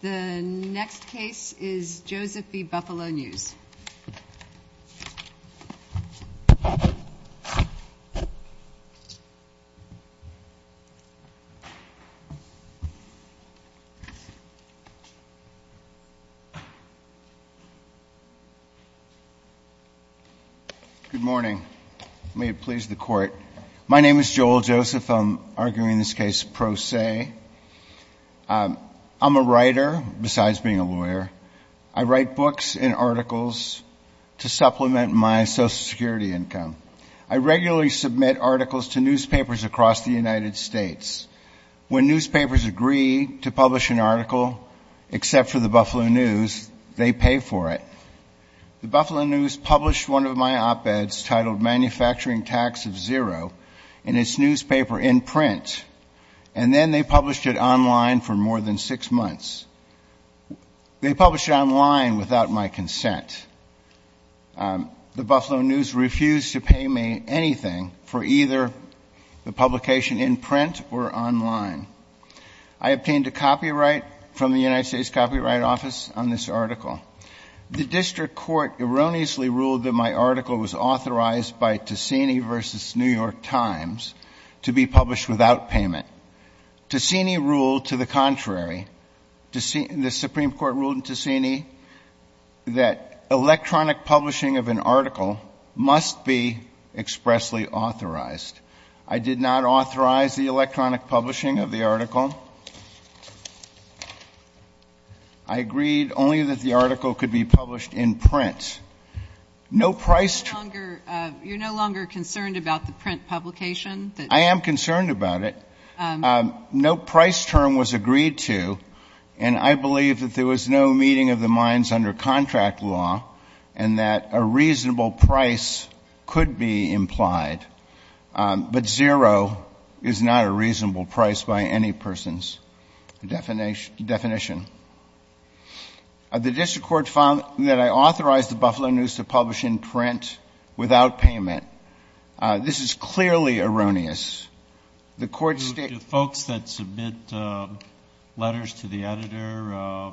The next case is Joseph v. Buffalo News. Good morning. May it please the Court. My name is Joel Joseph. I'm arguing this case pro se. I'm a writer, besides being a lawyer. I write books and articles to supplement my Social Security income. I regularly submit articles to newspapers across the United States. When newspapers agree to publish an article, except for the Buffalo News, they pay for it. The Buffalo News published one of my op-eds titled Manufacturing Tax of Zero in its newspaper in print, and then they published it online for more than six months. They published it online without my consent. The Buffalo News refused to pay me anything for either the publication in print or online. I obtained a copyright from the United States Copyright Office on this article. The district court erroneously ruled that my article was authorized by Ticini v. New York Times to be published without payment. Ticini ruled to the contrary. The Supreme Court ruled in Ticini that electronic publishing of an article must be expressly authorized. I did not authorize the electronic publishing of the article. I agreed only that the article could be published in print. No price term. You're no longer concerned about the print publication? I am concerned about it. No price term was agreed to, and I believe that there was no meeting of the minds under contract law and that a reasonable price could be implied. But zero is not a reasonable price by any person's definition. The district court found that I authorized the Buffalo News to publish in print without payment. This is clearly erroneous. The court stated to folks that submit letters to the editor,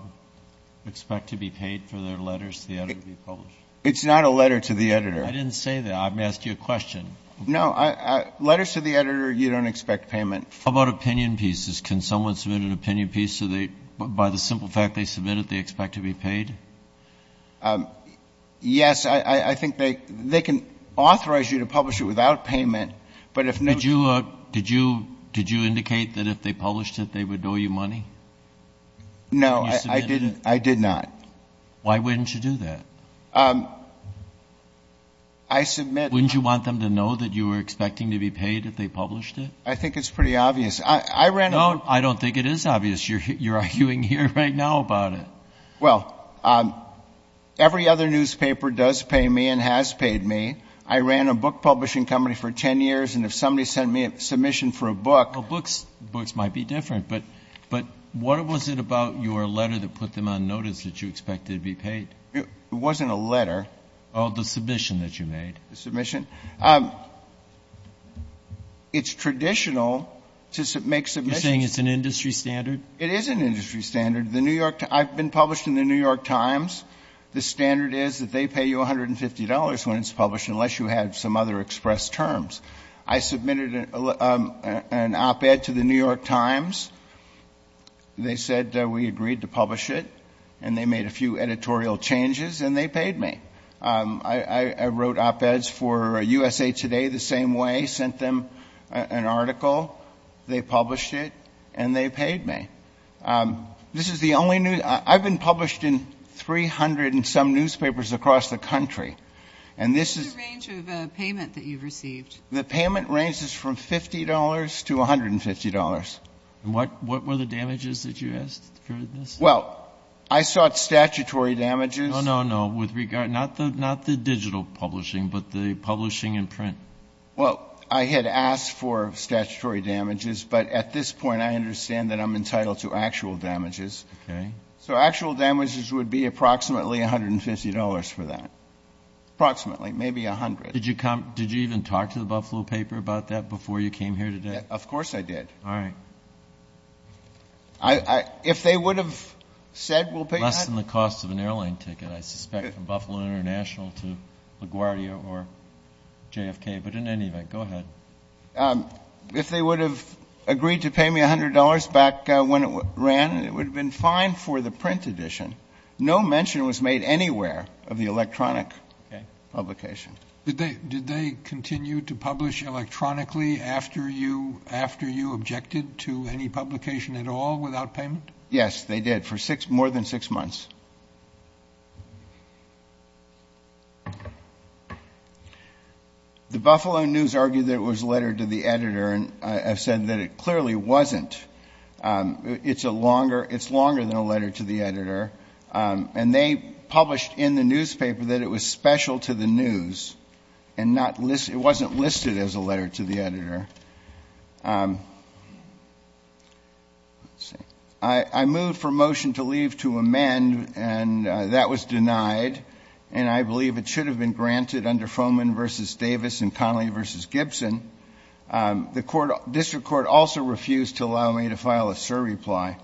expect to be paid for their letters to the editor to be published. It's not a letter to the editor. I didn't say that. I've asked you a question. No. Letters to the editor you don't expect payment for. How about opinion pieces? Can someone submit an opinion piece so they, by the simple fact they submit it, they expect to be paid? Yes. I think they can authorize you to publish it without payment, but if not, you can't. Did you indicate that if they published it, they would owe you money? No, I did not. Why wouldn't you do that? I submit. Wouldn't you want them to know that you were expecting to be paid if they published it? I think it's pretty obvious. I ran a book. No, I don't think it is obvious. You're arguing here right now about it. Well, every other newspaper does pay me and has paid me. I ran a book publishing company for 10 years, and if somebody sent me a submission for a book. Well, books might be different. But what was it about your letter that put them on notice that you expected to be paid? It wasn't a letter. Oh, the submission that you made. The submission. It's traditional to make submissions. You're saying it's an industry standard? It is an industry standard. The New York — I've been published in the New York Times. The standard is that they pay you $150 when it's published, unless you have some other express terms. I submitted an op-ed to the New York Times. They said we agreed to publish it, and they made a few editorial changes, and they paid me. I wrote op-eds for USA Today the same way, sent them an article. They published it, and they paid me. This is the only news — I've been published in 300 and some newspapers across the country, and this is — What's the range of payment that you've received? The payment ranges from $50 to $150. And what were the damages that you asked for this? Well, I sought statutory damages. No, no, no. With regard — not the digital publishing, but the publishing in print. Well, I had asked for statutory damages, but at this point I understand that I'm entitled to actual damages. Okay. So actual damages would be approximately $150 for that. Approximately. Maybe $100. Did you even talk to the Buffalo paper about that before you came here today? Of course I did. All right. If they would have said we'll pay you that — Less than the cost of an airline ticket, I suspect, from Buffalo International to LaGuardia or JFK. But in any event, go ahead. If they would have agreed to pay me $100 back when it ran, it would have been fine for the print edition. No mention was made anywhere of the electronic publication. Did they continue to publish electronically after you objected to any publication at all without payment? Yes, they did, for more than six months. The Buffalo News argued that it was a letter to the editor, and I've said that it clearly wasn't. It's a longer — it's longer than a letter to the editor. And they published in the newspaper that it was special to the news and not — it wasn't listed as a letter to the editor. I moved for a motion to leave to amend, and that was denied. And I believe it should have been granted under Foman v. Davis and Connolly v. Gibson. The district court also refused to allow me to file a cert reply.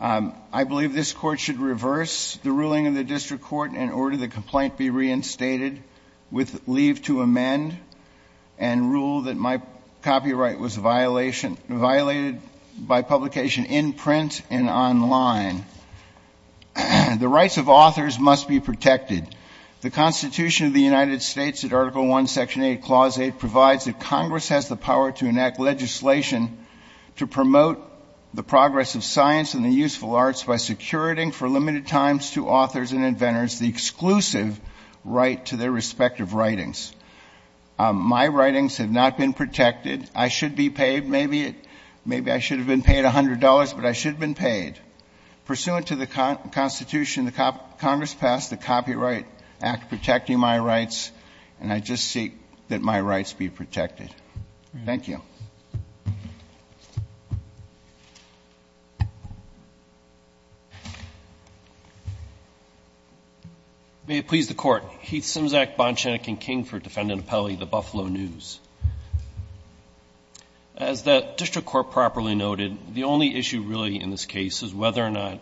I believe this Court should reverse the ruling of the district court and order the complaint be reinstated with leave to amend and rule that my copyright was violation — violated by publication in print and online. The rights of authors must be protected. The Constitution of the United States, at Article I, Section 8, Clause 8, provides that Congress has the power to enact legislation to promote the progress of science and the useful arts by securing for limited times to authors and inventors the exclusive right to their respective writings. My writings have not been protected. I should be paid. Maybe I should have been paid $100, but I should have been paid. Pursuant to the Constitution, the Congress passed the Copyright Act protecting my rights, and I just seek that my rights be protected. Thank you. May it please the Court. Heath Simzak, Bonshenik and King for Defendant Appellee, The Buffalo News. As the district court properly noted, the only issue really in this case is whether or not the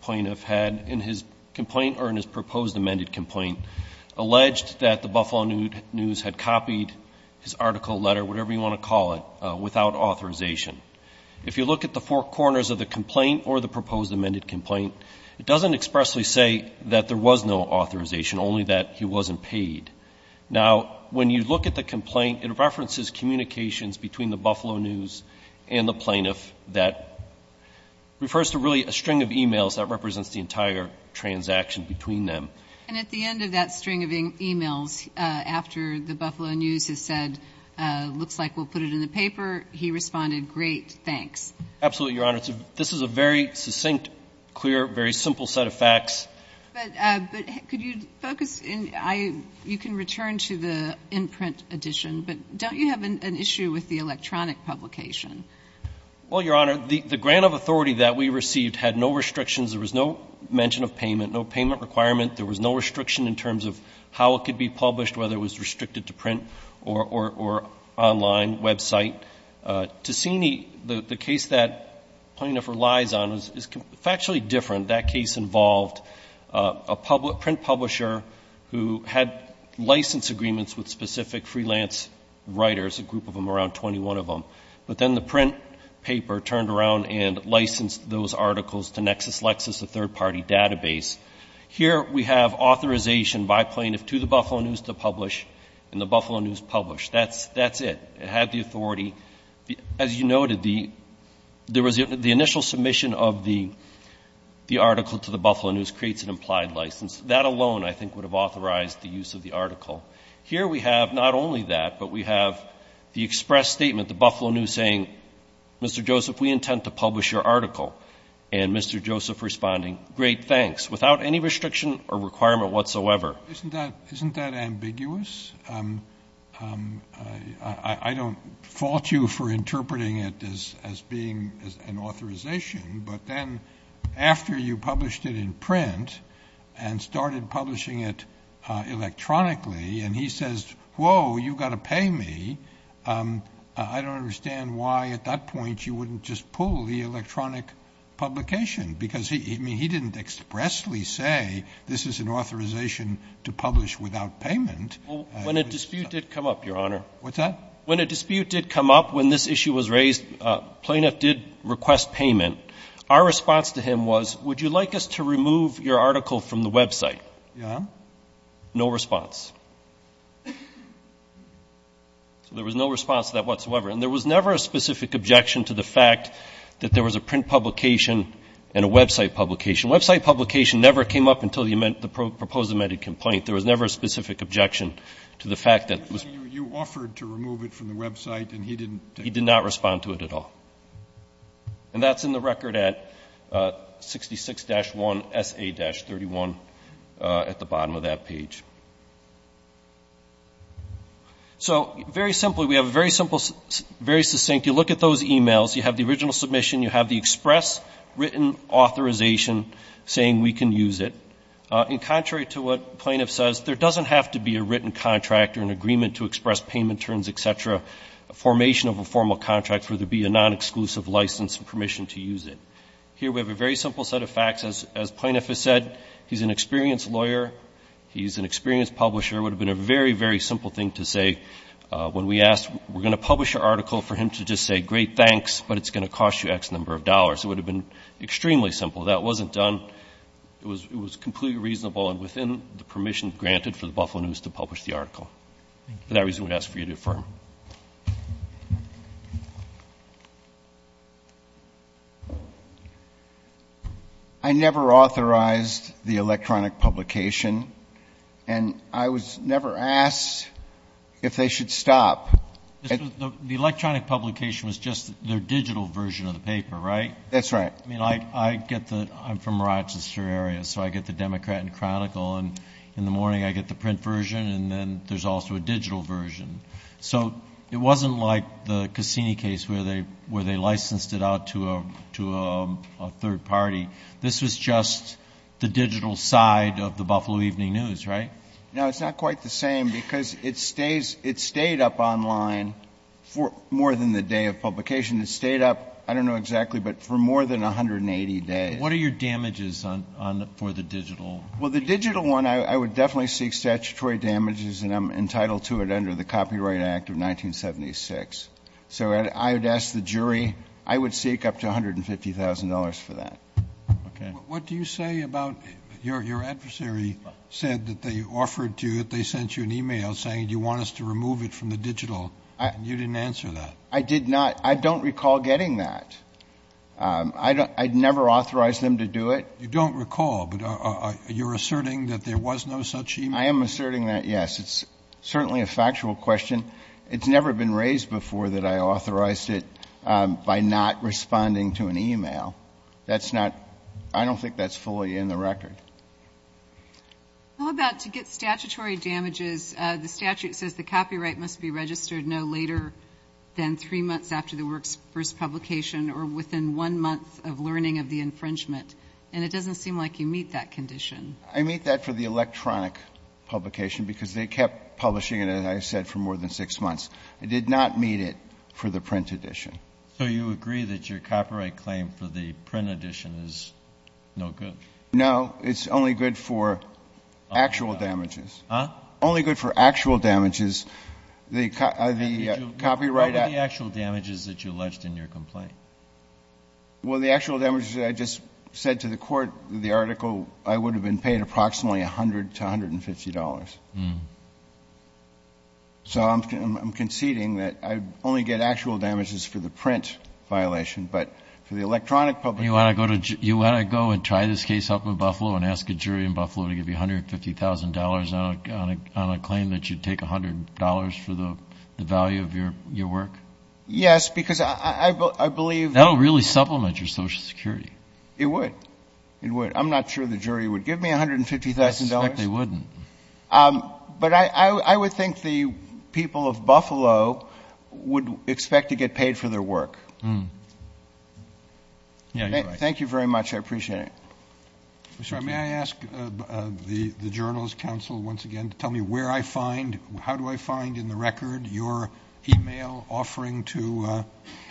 plaintiff had in his complaint or in his proposed amended complaint alleged that The Buffalo News had copied his article, letter, whatever you want to call it, without authorization. If you look at the four corners of the complaint or the proposed amended complaint, it doesn't expressly say that there was no authorization, only that he wasn't paid. Now, when you look at the complaint, it references communications between The Buffalo News and the plaintiff that refers to really a string of e-mails that represents the entire transaction between them. And at the end of that string of e-mails, after The Buffalo News has said, looks like we'll put it in the paper, he responded, great, thanks. Absolutely, Your Honor. This is a very succinct, clear, very simple set of facts. But could you focus in, you can return to the in-print edition, but don't you have an issue with the electronic publication? Well, Your Honor, the grant of authority that we received had no restrictions. There was no mention of payment, no payment requirement. There was no restriction in terms of how it could be published, whether it was restricted to print or online, website. To see the case that plaintiff relies on is factually different. That case involved a print publisher who had license agreements with specific freelance writers, a group of them, around 21 of them. But then the print paper turned around and licensed those articles to Nexus Lexis, a third-party database. Here we have authorization by plaintiff to The Buffalo News to publish, and The Buffalo News published. That's it. It had the authority. As you noted, the initial submission of the article to The Buffalo News creates an implied license. That alone, I think, would have authorized the use of the article. Here we have not only that, but we have the express statement, The Buffalo News saying, Mr. Joseph, we intend to publish your article. And Mr. Joseph responding, great, thanks, without any restriction or requirement whatsoever. Isn't that ambiguous? I don't fault you for interpreting it as being an authorization, but then after you published it in print and started publishing it electronically and he says, whoa, you've got to pay me, I don't understand why at that point you wouldn't just pull the electronic publication, because he didn't expressly say this is an authorization to publish without payment. When a dispute did come up, Your Honor. What's that? When a dispute did come up, when this issue was raised, a plaintiff did request payment. Our response to him was, would you like us to remove your article from the website? Your Honor? No response. So there was no response to that whatsoever. And there was never a specific objection to the fact that there was a print publication and a website publication. Website publication never came up until the proposed amended complaint. There was never a specific objection to the fact that it was. You offered to remove it from the website and he didn't. He did not respond to it at all. And that's in the record at 66-1SA-31 at the bottom of that page. So very simply, we have a very simple, very succinct, you look at those e-mails, you have the original submission, you have the express written authorization saying we can use it. And contrary to what the plaintiff says, there doesn't have to be a written contract or an agreement to express payment terms, et cetera, a formation of a formal contract for there to be a non-exclusive license and permission to use it. Here we have a very simple set of facts. As the plaintiff has said, he's an experienced lawyer, he's an experienced publisher. It would have been a very, very simple thing to say when we asked, we're going to publish your article for him to just say, great, thanks, but it's going to cost you X number of dollars. It would have been extremely simple. That wasn't done. It was completely reasonable and within the permission granted for the Buffalo News to publish the article. For that reason, we'd ask for you to affirm. I never authorized the electronic publication, and I was never asked if they should stop. The electronic publication was just their digital version of the paper, right? That's right. I'm from Rochester area, so I get the Democrat and Chronicle, and in the morning I get the print version, and then there's also a digital version. So it wasn't like the Cassini case where they licensed it out to a third party. This was just the digital side of the Buffalo Evening News, right? No, it's not quite the same because it stayed up online for more than the day of publication. It stayed up, I don't know exactly, but for more than 180 days. What are your damages for the digital? Well, the digital one, I would definitely seek statutory damages, and I'm entitled to it under the Copyright Act of 1976. So I would ask the jury. I would seek up to $150,000 for that. Okay. What do you say about your adversary said that they offered to you, that they sent you an e-mail saying, do you want us to remove it from the digital? You didn't answer that. I did not. I don't recall getting that. I never authorized them to do it. You don't recall, but you're asserting that there was no such e-mail? I am asserting that, yes. It's certainly a factual question. It's never been raised before that I authorized it by not responding to an e-mail. That's not — I don't think that's fully in the record. How about to get statutory damages? The statute says the copyright must be registered no later than three months after the work's first publication or within one month of learning of the infringement. And it doesn't seem like you meet that condition. I meet that for the electronic publication because they kept publishing it, as I said, for more than six months. I did not meet it for the print edition. So you agree that your copyright claim for the print edition is no good? No. It's only good for actual damages. Huh? Only good for actual damages. What were the actual damages that you alleged in your complaint? Well, the actual damages that I just said to the court, the article, I would have been paid approximately $100 to $150. So I'm conceding that I only get actual damages for the print violation, but for the electronic publication. You want to go and try this case up in Buffalo and ask a jury in Buffalo to give you $150,000 on a claim that you'd take $100 for the value of your work? Yes, because I believe — That'll really supplement your Social Security. It would. It would. I'm not sure the jury would give me $150,000. I suspect they wouldn't. But I would think the people of Buffalo would expect to get paid for their work. Yeah, you're right. Thank you very much. I appreciate it. Mr. Armitage, may I ask the Journals Council once again to tell me where I find — how do I find in the record your email offering to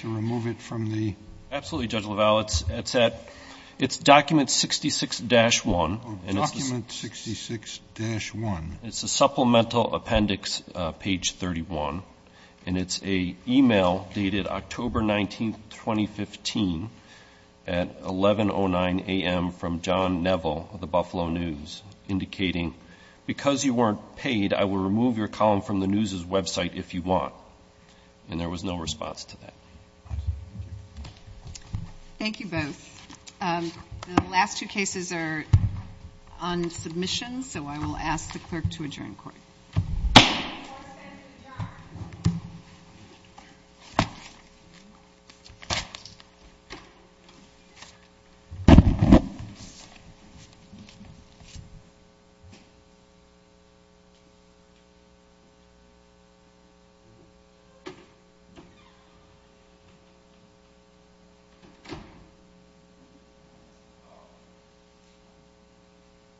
remove it from the — Absolutely, Judge LaValle. It's at — it's document 66-1. Oh, document 66-1. It's a supplemental appendix, page 31. And it's a email dated October 19, 2015, at 11.09 a.m. from John Neville of the Buffalo News, indicating, because you weren't paid, I will remove your column from the news's website if you want. And there was no response to that. Thank you both. The last two cases are on submission, so I will ask the clerk to adjourn court. Court is adjourned.